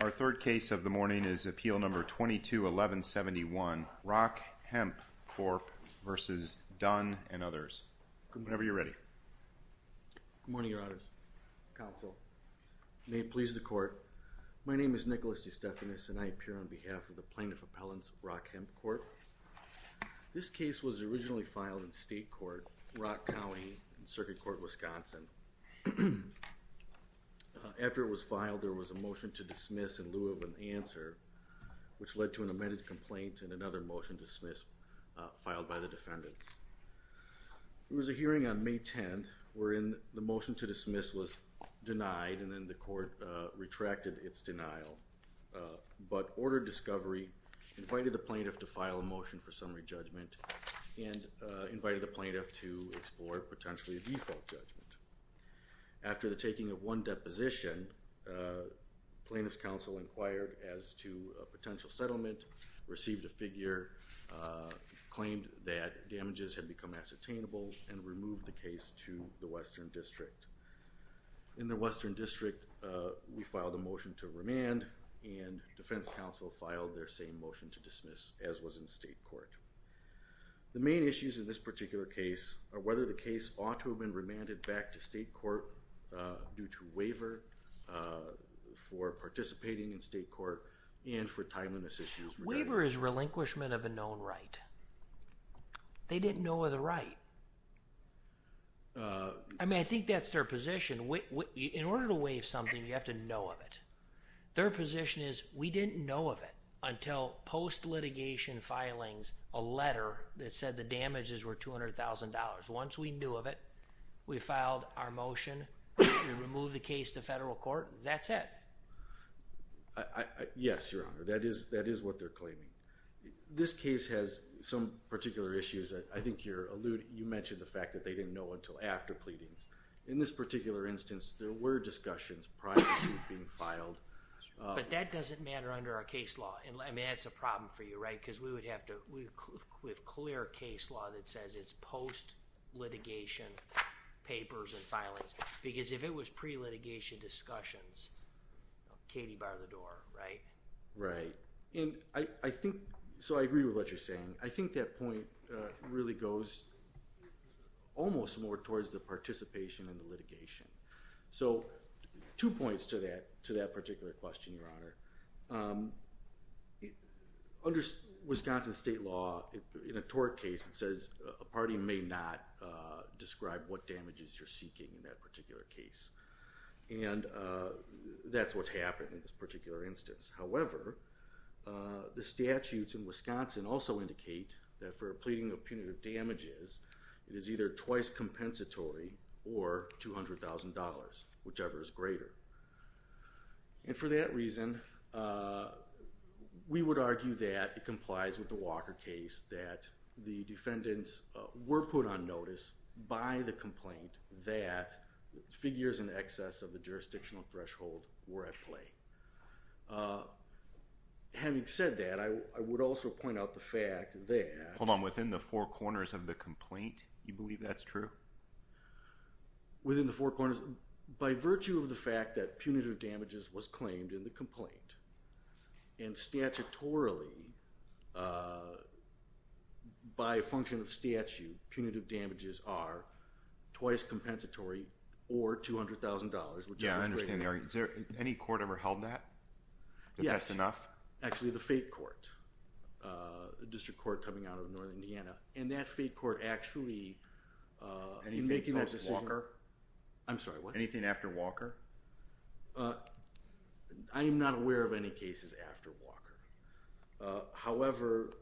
Our third case of the morning is Appeal No. 22-1171, Rock Hemp Corp. v. Dunn and others. Whenever you're ready. Good morning, Your Honors. Counsel, may it please the Court, my name is Nicholas DeStefanis and I appear on behalf of the Plaintiff Appellants of Rock Hemp Corp. This case was originally filed in State Court, Rock County, in Circuit Court, Wisconsin. After it was filed, there was a motion to dismiss in lieu of an answer, which led to an amended complaint and another motion to dismiss filed by the defendants. There was a hearing on May 10th wherein the motion to dismiss was denied and then the Court retracted its denial, but ordered discovery, invited the Plaintiff to file a motion for summary judgment, and invited the Plaintiff to explore potentially a default judgment. After the taking of one deposition, Plaintiff's Counsel inquired as to a potential settlement, received a figure, claimed that damages had become ascertainable, and removed the case to the Western District. In the Western District, we filed a motion to remand and Defense Counsel filed their same motion to dismiss as was in State Court. The main issues in this particular case are whether the case ought to have been remanded back to State Court due to waiver for participating in State Court and for timeliness issues. Waiver is relinquishment of a known right. They didn't know of the right. I mean, I think that's their position. In order to waive something, you have to know of it. Their position is, we didn't know of it until post-litigation filings, a letter that said the damages were $200,000. Once we knew of it, we filed our motion to remove the case to Federal Court. That's it. Yes, Your Honor. That is what they're claiming. This case has some particular issues. I think you mentioned the fact that they didn't know until after pleadings. In this particular instance, there were discussions prior to being filed. But that doesn't matter under our case law. I mean, that's a problem for you, right? Because we have clear case law that says it's post-litigation papers and filings. Because if it was pre-litigation discussions, Katie barred the door, right? Right. So I agree with what you're saying. I think that point really goes almost more towards the participation in the litigation. So two points to that particular question, Your Honor. Under Wisconsin state law, in a tort case, it says a party may not describe what damages you're seeking in that particular case. And that's what happened in this particular instance. However, the statutes in Wisconsin also indicate that for a pleading of punitive damages, it is either twice compensatory or $200,000, whichever is greater. And for that reason, we would argue that it complies with the Walker case, that the defendants were put on notice by the complaint that figures in excess of the jurisdictional threshold were at play. Having said that, I would also point out the fact that- Hold on. Within the four corners of the complaint, you believe that's true? Within the four corners. By virtue of the fact that punitive damages was claimed in the complaint, and statutorily, by function of statute, punitive damages are twice compensatory or $200,000, which is greater. Yeah, I understand the argument. Has any court ever held that? Yes. That that's enough? Actually, the fate court, a district court coming out of northern Indiana. And that fate court actually- Anything post-Walker? I'm sorry, what? Anything after Walker? I am not aware of any cases after Walker. However,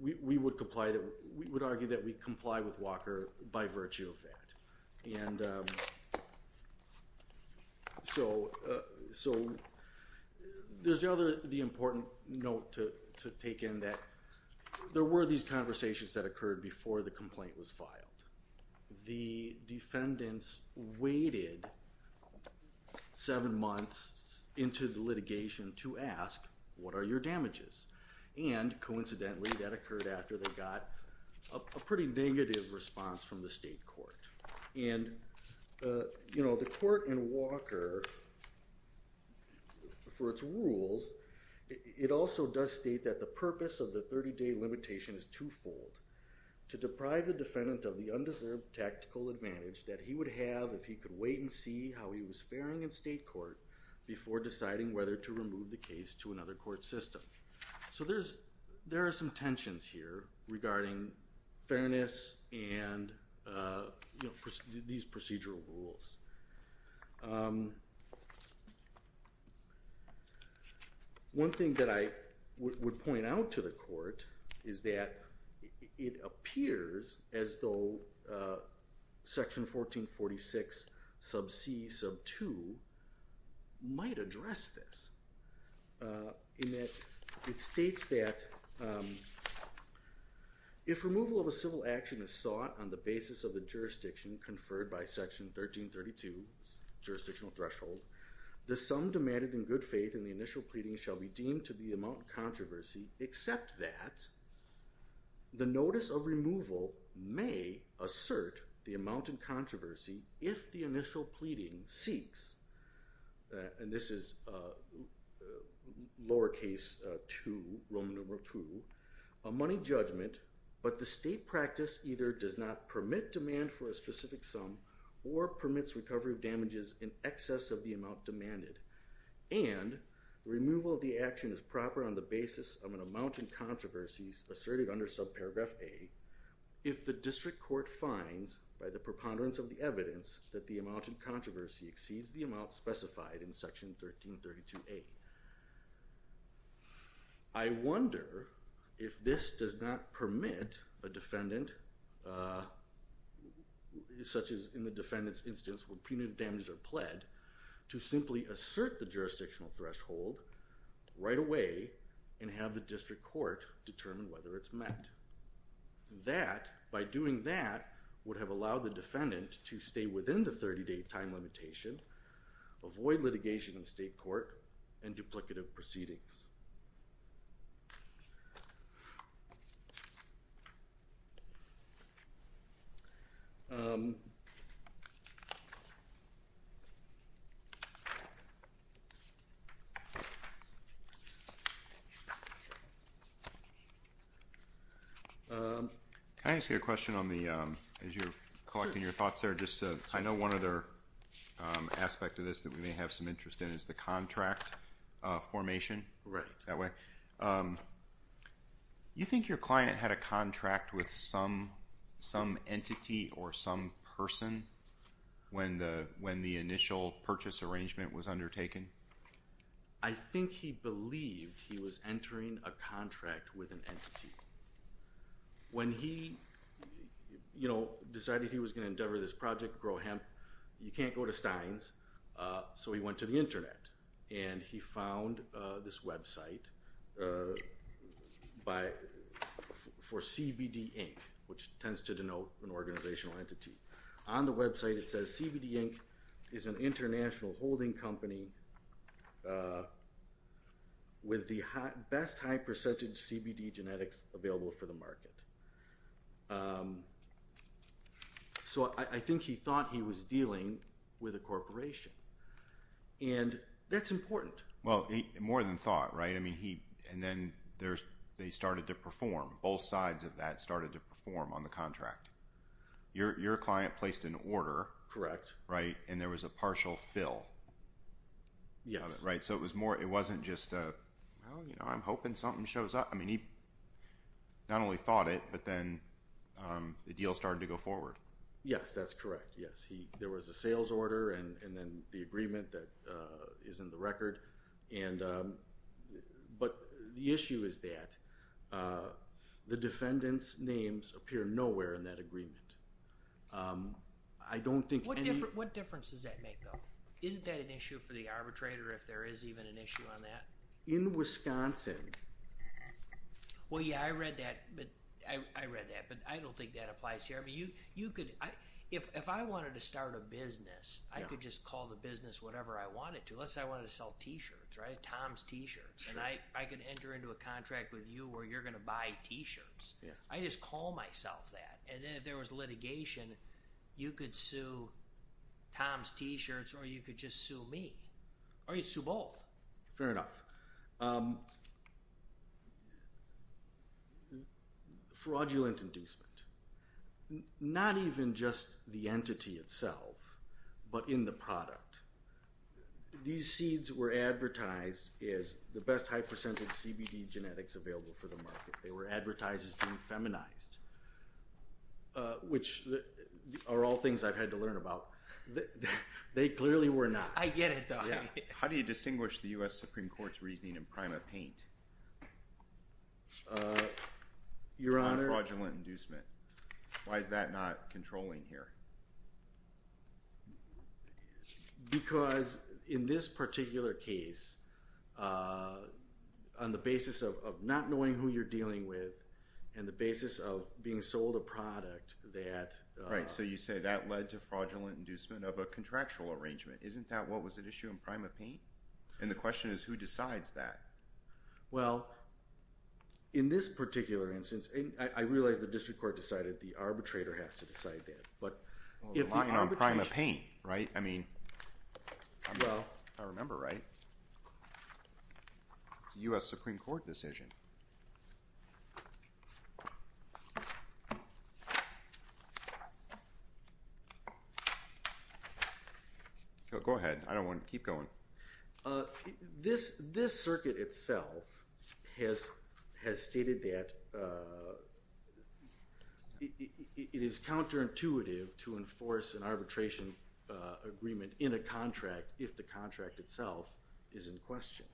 we would argue that we comply with Walker by virtue of that. And so there's the important note to take in that there were these conversations that occurred before the complaint was filed. The defendants waited seven months into the litigation to ask, what are your damages? And coincidentally, that occurred after they got a pretty negative response from the state court. And the court in Walker, for its rules, it also does state that the purpose of the 30-day limitation is twofold. To deprive the defendant of the undeserved tactical advantage that he would have if he could wait and see how he was faring in state court before deciding whether to remove the case to another court system. So there are some tensions here regarding fairness and these procedural rules. One thing that I would point out to the court is that it appears as though section 1446 sub c sub 2 might address this. In that it states that, if removal of a civil action is sought on the basis of the jurisdiction conferred by section 1332 jurisdictional threshold, the sum demanded in good faith in the initial pleading shall be deemed to be the amount of controversy except that the notice of removal may assert the amount of controversy if the initial pleading seeks, and this is lowercase two, Roman numeral two, a money judgment, but the state practice either does not permit demand for a specific sum or permits recovery of damages in excess of the amount demanded, and removal of the action is proper on the basis of an amount in controversies asserted under sub paragraph a, if the district court finds by the preponderance of the evidence that the amount of controversy exceeds the amount specified in section 1332a. I wonder if this does not permit a defendant, such as in the defendant's instance where punitive damages are pled, to simply assert the jurisdictional threshold right away and have the district court determine whether it's met. That, by doing that, would have allowed the defendant to stay within the 30-day time limitation, avoid litigation in state court, and duplicative proceedings. Can I ask you a question as you're collecting your thoughts there? I know one other aspect of this that we may have some interest in is the contract formation that way. You think your client had a contract with some entity or some person when the initial purchase arrangement was undertaken? I think he believed he was entering a contract with an entity. When he decided he was going to endeavor this project, Grow Hemp, you can't go to Stein's, so he went to the internet and he found this website for CBD Inc., which tends to denote an organizational entity. On the website it says, CBD Inc. is an international holding company with the best high-percentage CBD genetics available for the market. So I think he thought he was dealing with a corporation. And that's important. Well, more than thought, right? And then they started to perform. Both sides of that started to perform on the contract. Your client placed an order. Correct. And there was a partial fill. Yes. Right, so it wasn't just, well, I'm hoping something shows up. I mean, he not only thought it, but then the deal started to go forward. Yes, that's correct. Yes, there was a sales order and then the agreement that is in the record. But the issue is that the defendant's names appear nowhere in that agreement. What difference does that make, though? Isn't that an issue for the arbitrator if there is even an issue on that? In Wisconsin. Well, yeah, I read that, but I don't think that applies here. I mean, if I wanted to start a business, I could just call the business whatever I wanted to. Let's say I wanted to sell T-shirts, right? Tom's T-shirts. And I could enter into a contract with you where you're going to buy T-shirts. I just call myself that. And then if there was litigation, you could sue Tom's T-shirts or you could just sue me. Or you'd sue both. Fair enough. Fraudulent inducement. Not even just the entity itself, but in the product. These seeds were advertised as the best high-percentage CBD genetics available for the market. They were advertised as being feminized. Which are all things I've had to learn about. They clearly were not. I get it, though. How do you distinguish the U.S. Supreme Court's reasoning in PrimaPaint? Your Honor. On fraudulent inducement. Why is that not controlling here? Because in this particular case, on the basis of not knowing who you're dealing with and the basis of being sold a product that... Right, so you say that led to fraudulent inducement of a contractual arrangement. Isn't that what was at issue in PrimaPaint? And the question is, who decides that? Well, in this particular instance, I realize the District Court decided the arbitrator has to decide that. But if the arbitration... Well, the line on PrimaPaint, right? I mean... Well... I remember, right? It's a U.S. Supreme Court decision. Okay. Go ahead. I don't want to keep going. This circuit itself has stated that... it is counterintuitive to enforce an arbitration agreement in a contract if the contract itself is in question.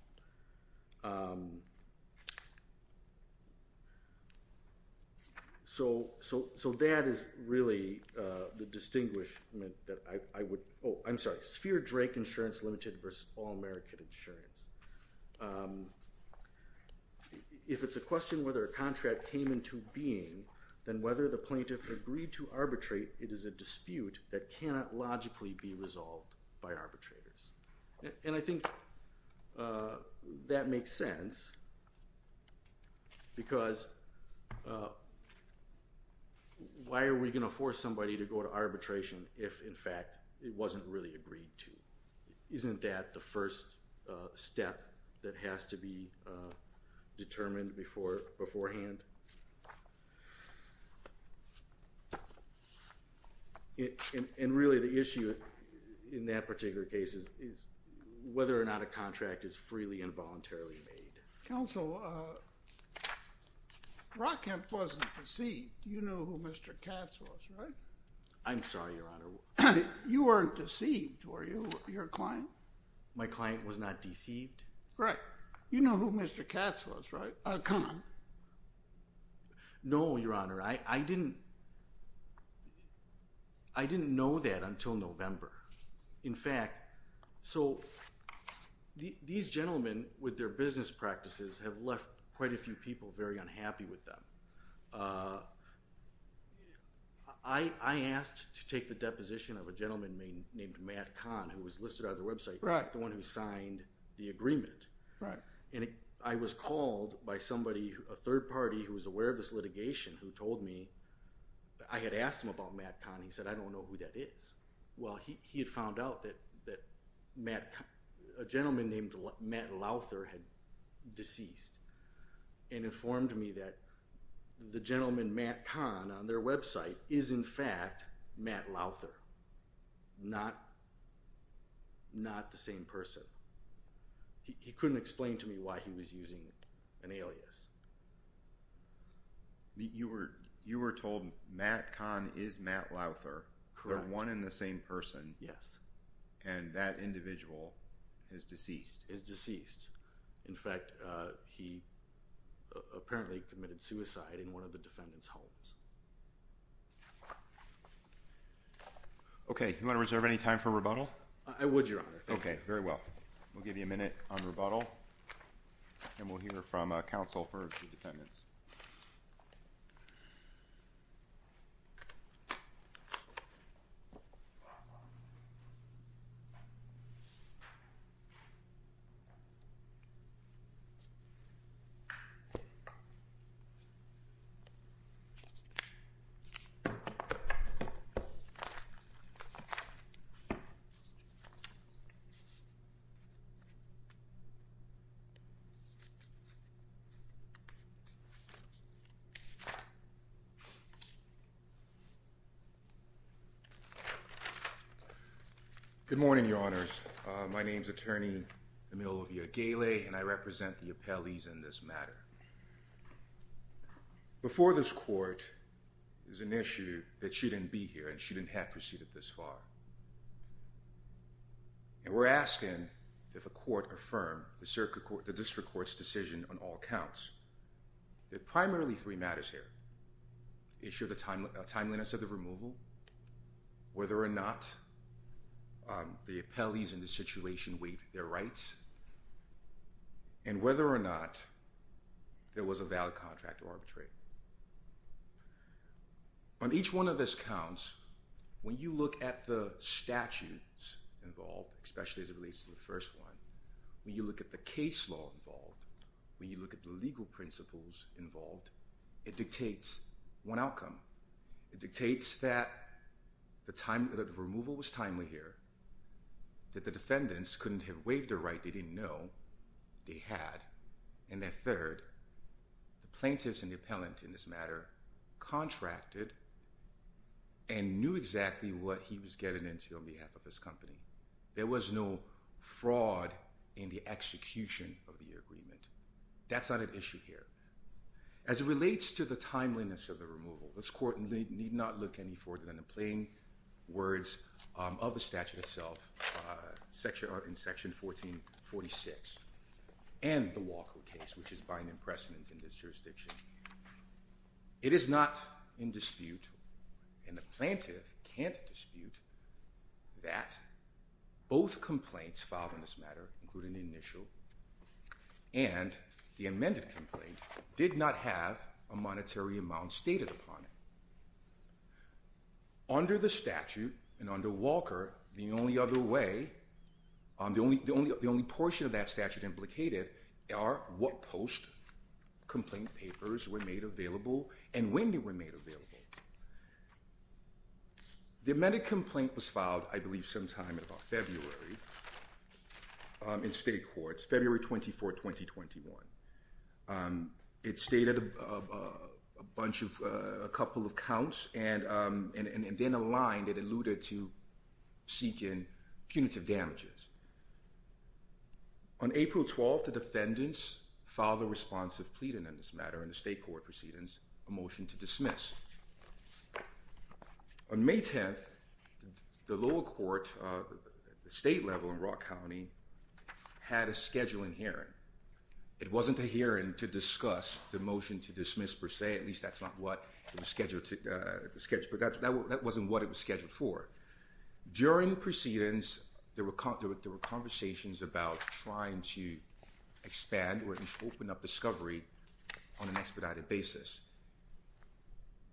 So that is really the distinguishment that I would... Oh, I'm sorry. Sphere Drake Insurance Limited versus All-American Insurance. If it's a question whether a contract came into being, then whether the plaintiff agreed to arbitrate, it is a dispute that cannot logically be resolved by arbitrators. And I think that makes sense because why are we going to force somebody to go to arbitration if, in fact, it wasn't really agreed to? Isn't that the first step that has to be determined beforehand? And really, the issue in that particular case is whether or not a contract is freely and voluntarily made. Counsel, Rockhampton wasn't deceived. You knew who Mr. Katz was, right? I'm sorry, Your Honor. You weren't deceived, were you, your client? My client was not deceived. Correct. You knew who Mr. Katz was, right? Come on. No, Your Honor. I didn't... I didn't know that until November. In fact, so these gentlemen, with their business practices, have left quite a few people very unhappy with them. I asked to take the deposition of a gentleman named Matt Kahn, who was listed on the website, the one who signed the agreement. And I was called by somebody, a third party, who was aware of this litigation, who told me... I had asked him about Matt Kahn. He said, I don't know who that is. Well, he had found out that Matt Kahn... A gentleman named Matt Louther had deceased and informed me that the gentleman Matt Kahn on their website is, in fact, Matt Louther, not the same person. He couldn't explain to me why he was using an alias. You were told Matt Kahn is Matt Louther. Correct. They're one and the same person. Yes. And that individual is deceased. Is deceased. In fact, he apparently committed suicide in one of the defendant's homes. Okay. You want to reserve any time for rebuttal? I would, Your Honor. Thank you. Okay. Very well. We'll give you a minute on rebuttal. And we'll hear from counsel for the defendants. Good morning, Your Honors. My name is Attorney Emilio Villagayle, and I represent the appellees in this matter. Before this court, there's an issue that she didn't be here, and she didn't have proceeded this far. And we're asking that the court affirm the district court's decision on all counts. There are primarily three matters here. The issue of the timeliness of the removal, whether or not the appellees in this situation waived their rights, and whether or not there was a valid contract to arbitrate. On each one of those counts, when you look at the statutes involved, especially as it relates to the first one, when you look at the case law involved, when you look at the legal principles involved, it dictates one outcome. It dictates that the removal was timely here, that the defendants couldn't have waived their right they didn't know they had, and that third, the plaintiffs and the appellant in this matter, contracted and knew exactly what he was getting into on behalf of his company. There was no fraud in the execution of the agreement. That's not an issue here. As it relates to the timeliness of the removal, this court need not look any further than the plain words of the statute itself, in section 1446, and the Walker case, which is binding precedent in this jurisdiction. It is not in dispute, and the plaintiff can't dispute, that both complaints filed in this matter, including the initial, and the amended complaint, did not have a monetary amount stated upon it. Under the statute, and under Walker, the only other way, the only portion of that statute implicated, are what post-complaint papers were made available, and when they were made available. The amended complaint was filed, I believe sometime in about February, in state courts, February 24, 2021. It stated a bunch of, a couple of counts, and then a line that alluded to seeking punitive damages. On April 12th, the defendants filed a response of pleading in this matter, in the state court proceedings, a motion to dismiss. On May 10th, the lower court, the state level in Rock County, had a scheduling hearing. It wasn't a hearing to discuss the motion to dismiss per se, at least that's not what it was scheduled to, but that wasn't what it was scheduled for. During the proceedings, there were conversations about trying to expand, or open up discovery on an expedited basis.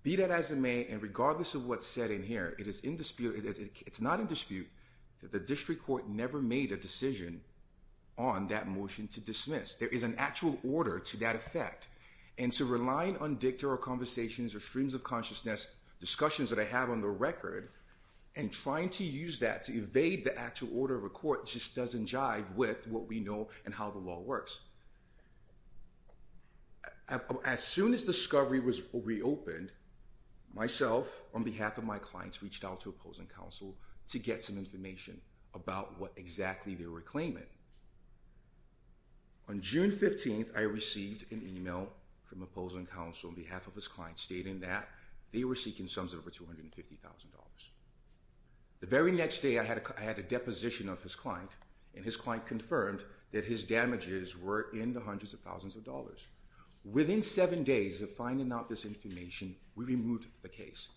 Be that as it may, and regardless of what's said in here, it is in dispute, it's not in dispute, that the district court never made a decision, on that motion to dismiss. There is an actual order to that effect, and to rely on dictatorial conversations, or streams of consciousness, discussions that I have on the record, and trying to use that to evade the actual order of a court, just doesn't jive with what we know, and how the law works. As soon as discovery was reopened, myself, on behalf of my clients, reached out to opposing counsel, to get some information, about what exactly they were claiming. On June 15th, I received an email, from opposing counsel, on behalf of his client, stating that, they were seeking sums of over $250,000. The very next day, I had a deposition of his client, and his client confirmed, that his damages were in the hundreds of thousands of dollars. Within seven days of finding out this information, we removed the case.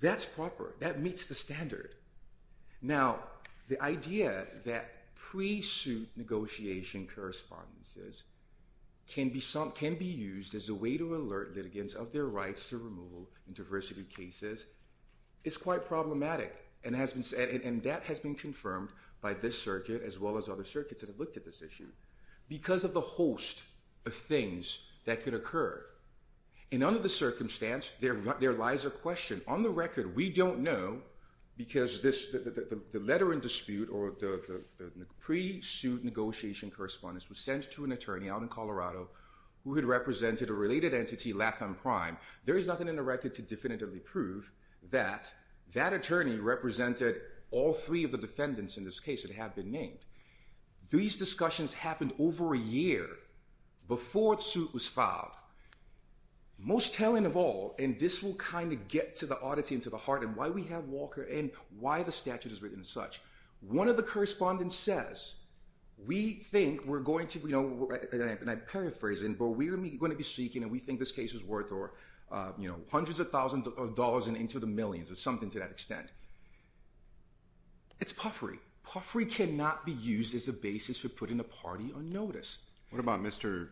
That's proper, that meets the standard. Now, the idea that pre-suit negotiation correspondences, can be used as a way to alert litigants, of their rights to removal in diversity cases, is quite problematic. And that has been confirmed, by this circuit, as well as other circuits, that have looked at this issue. Because of the host of things, that could occur. And under the circumstance, there lies a question. On the record, we don't know, because the letter in dispute, or the pre-suit negotiation correspondence, was sent to an attorney out in Colorado, who had represented a related entity, Latham Prime. There is nothing in the record to definitively prove, that that attorney represented, all three of the defendants in this case, that have been named. These discussions happened over a year, before the suit was filed. Most telling of all, and this will kind of get to the oddity, and to the heart, and why we have Walker, and why the statute is written as such. One of the correspondents says, we think we're going to, and I'm paraphrasing, but we're going to be seeking, and we think this case is worth, hundreds of thousands of dollars, and into the millions, or something to that extent. It's puffery. Puffery cannot be used, as a basis for putting a party on notice. What about Mr.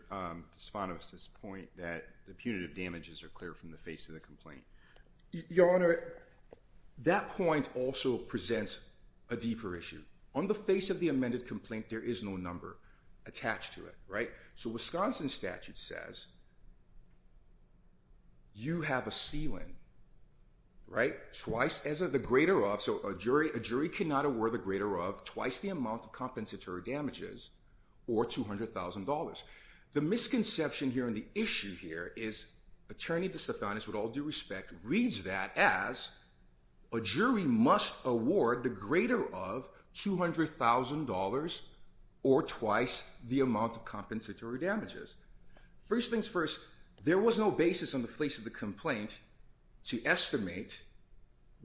DeSantis' point, that the punitive damages are clear, from the face of the complaint? Your Honor, that point also presents a deeper issue. On the face of the amended complaint, there is no number attached to it. So Wisconsin statute says, you have a ceiling, twice as of the greater of, so a jury cannot award the greater of, twice the amount of compensatory damages, or $200,000. The misconception here, and the issue here, is Attorney DeSantis, with all due respect, reads that as, a jury must award the greater of, $200,000, or twice the amount of compensatory damages. First things first, there was no basis on the face of the complaint, to estimate,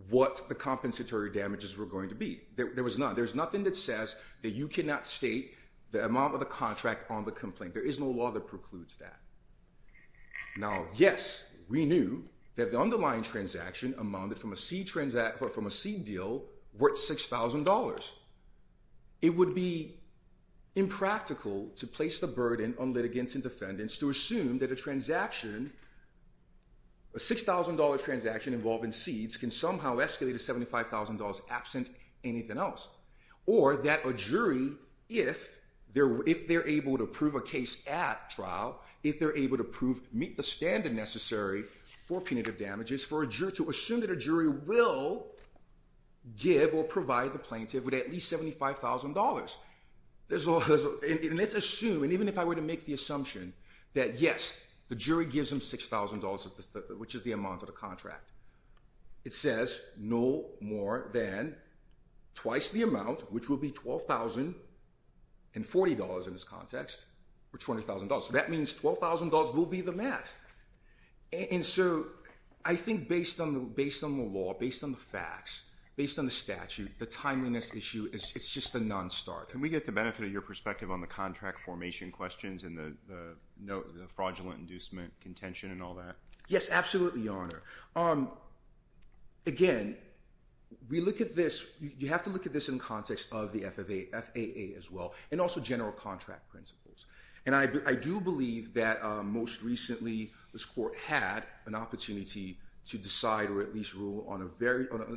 what the compensatory damages were going to be. There was none. There's nothing that says, that you cannot state, the amount of the contract on the complaint. There is no law that precludes that. Now, yes, we knew, that the underlying transaction, amounted from a C transaction, from a C deal, worth $6,000. It would be, impractical, to place the burden, on litigants and defendants, to assume, that a transaction, a $6,000 transaction, involving seeds, can somehow escalate to $75,000, absent anything else. Or, that a jury, if, they're able to prove a case at trial, if they're able to prove, meet the standard necessary, for punitive damages, for a jury to assume, that a jury will, give or provide the plaintiff, with at least $75,000. And let's assume, and even if I were to make the assumption, that yes, the jury gives them $6,000, which is the amount of the contract. It says, no more than, twice the amount, which will be $12,040 in this context, for $20,000. So that means $12,000 will be the max. And so, I think based on the law, based on the facts, based on the statute, the timeliness issue, it's just a non-starter. Can we get the benefit of your perspective, on the contract formation questions, and the fraudulent inducement contention, and all that? Yes, absolutely, Your Honor. Again, we look at this, you have to look at this in context, of the FAA as well, and also general contract principles. And I do believe that, most recently, this court had, an opportunity to decide, or at least rule, on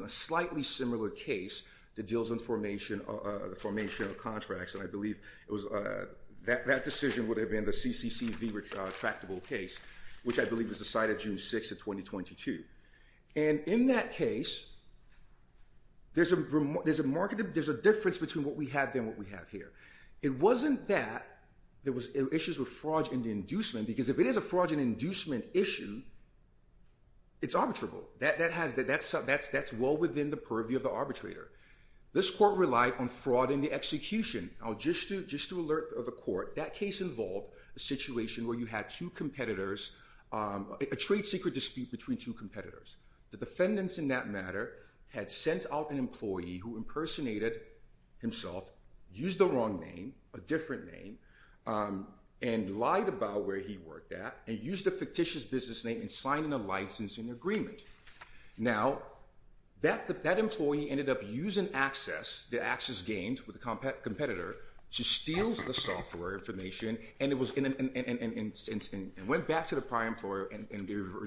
a slightly similar case, that deals with formation of contracts. And I believe, that decision would have been, the CCCV tractable case, which I believe was decided June 6th of 2022. And in that case, there's a difference between, what we have there, and what we have here. It wasn't that, there were issues with fraudulent inducement, because if it is a fraudulent inducement issue, it's arbitrable. That's well within the purview of the arbitrator. This court relied on fraud in the execution. Now just to alert the court, that case involved a situation, where you had two competitors, a trade secret dispute between two competitors. The defendants in that matter, had sent out an employee, who impersonated himself, used the wrong name, a different name, and lied about where he worked at, and used a fictitious business name, and signed a licensing agreement. Now, that employee ended up using access, the access gained with the competitor, to steal the software information, and went back to the prior employer, and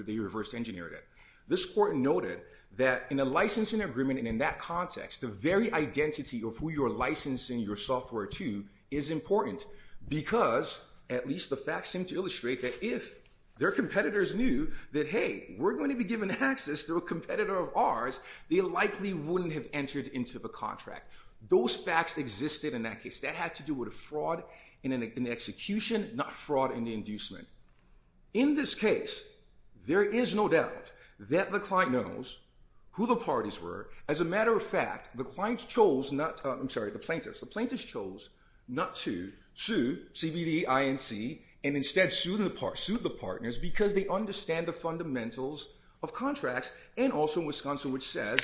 they reverse engineered it. This court noted, that in a licensing agreement, and in that context, the very identity of who you're licensing your software to, is important. Because, at least the facts seem to illustrate that, if their competitors knew, that hey, we're going to be giving access to a competitor of ours, they likely wouldn't have entered into the contract. Those facts existed in that case. That had to do with a fraud in the execution, not fraud in the inducement. In this case, there is no doubt, that the client knows, who the parties were. As a matter of fact, the plaintiffs chose, not to sue CBD INC, and instead sued the partners, because they understand the fundamentals of contracts, and also Wisconsin, which says,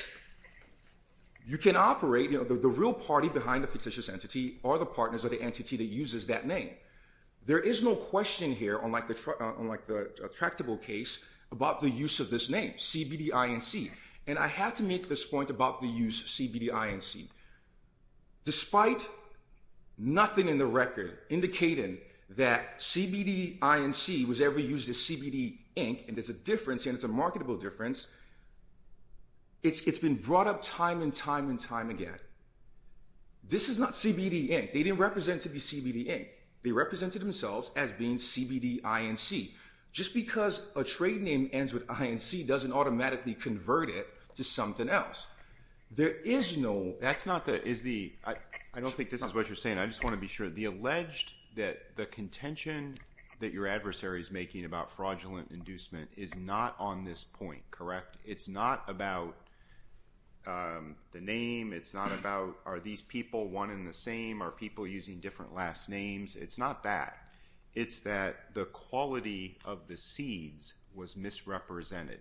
you can operate, the real party behind the fictitious entity, are the partners of the entity that uses that name. There is no question here, unlike the tractable case, about the use of this name, CBD INC. And I have to make this point about the use, CBD INC. Despite, nothing in the record, indicating, that CBD INC, was ever used as CBD INC, and there's a difference, and it's a marketable difference, it's been brought up time, and time, and time again. This is not CBD INC. They didn't represent to be CBD INC. They represented themselves, as being CBD INC. Just because a trade name, ends with INC, to something else. There is no... That's not the... I don't think this is what you're saying. I just want to be sure. The alleged, that the contention, that your adversary is making, about fraudulent inducement, is not on this point. Correct? It's not about, the name. It's not about, are these people one and the same? Are people using different last names? It's not that. It's that, the quality of the seeds, was misrepresented.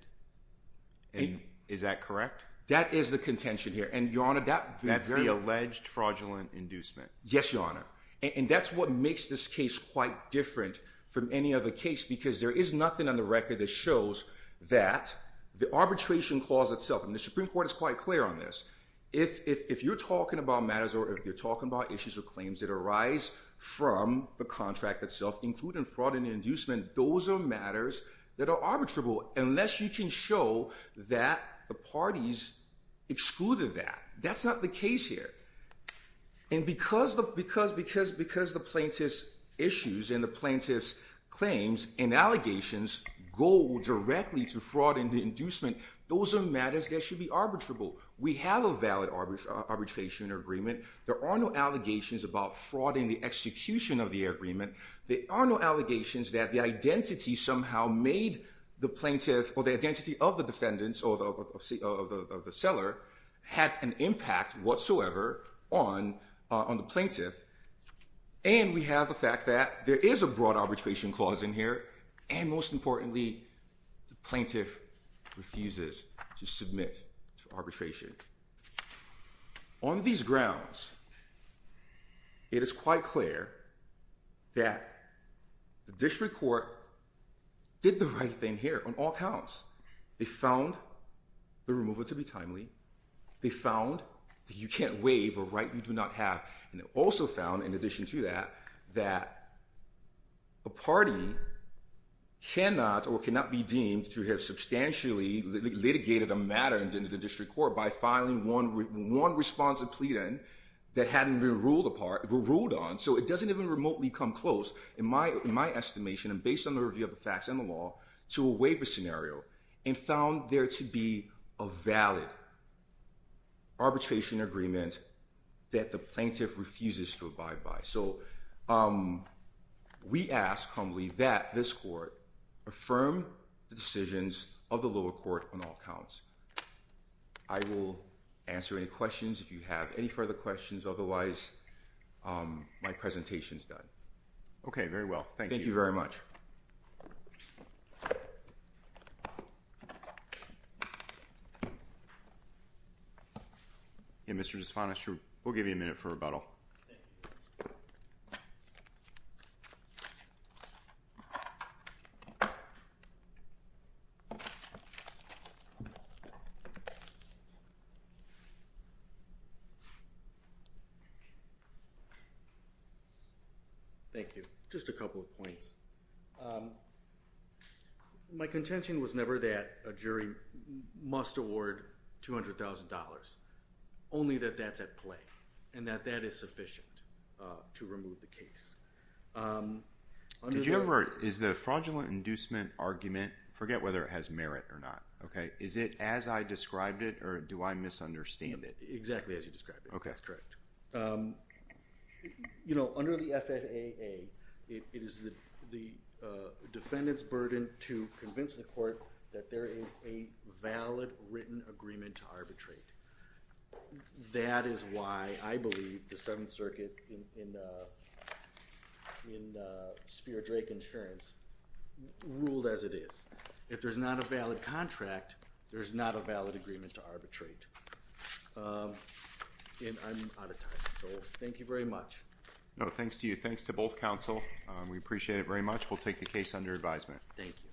And, is that correct? That is the contention here. And your honor, That's the alleged fraudulent inducement. Yes, your honor. And that's what makes this case, quite different, from any other case, because there is nothing on the record, that shows that, the arbitration clause itself, and the Supreme Court is quite clear on this. If you're talking about matters, or if you're talking about issues, or claims that arise, from the contract itself, including fraud and inducement, those are matters, that are arbitrable. Unless you can show, that the parties, excluded that. That's not the case here. And because the plaintiff's issues, and the plaintiff's claims, and allegations, go directly to fraud and inducement, those are matters, that should be arbitrable. We have a valid arbitration agreement. There are no allegations, about fraud in the execution, of the agreement. There are no allegations, that the identity somehow, made the plaintiff, or the identity of the defendants, or the seller, had an impact whatsoever, on the plaintiff. And we have the fact that, there is a broad arbitration clause in here, and most importantly, the plaintiff refuses, to submit to arbitration. On these grounds, it is quite clear, that the district court, did the right thing here, on all counts. They found the removal to be timely. They found that you can't waive, a right you do not have. And they also found, in addition to that, that a party cannot, or cannot be deemed, to have substantially litigated a matter, in the district court, by filing one responsive plea then, that hadn't been ruled on. So it doesn't even remotely come close, in my estimation, and based on the review of the facts, and the law, to a waiver scenario. And found there to be, a valid, arbitration agreement, that the plaintiff refuses to abide by. So, we ask humbly, that this court, affirm the decisions, of the lower court, on all counts. I will answer any questions, if you have any further questions, otherwise, my presentation's done. Okay, very well. Thank you very much. Yeah, Mr. Despondish, we'll give you a minute for rebuttal. Thank you. Thank you. Just a couple of points. My contention was never that, a jury must award $200,000, only that that's at play, and that that is sufficient, to remove the case. Did you ever, is the fraudulent inducement argument, forget whether it has merit or not, okay, is it as I described it, or do I misunderstand it? Exactly as you described it. Okay. That's correct. You know, under the FFAA, it is the defendant's burden, to convince the court, that there is a valid, written agreement to arbitrate. That is why, I believe, the Seventh Circuit, in Spear-Drake Insurance, ruled as it is. If there's not a valid contract, there's not a valid agreement to arbitrate. And I'm out of time. So, thank you very much. No, thanks to you. Thanks to both counsel. We appreciate it very much. We'll take the case under advisement. Thank you.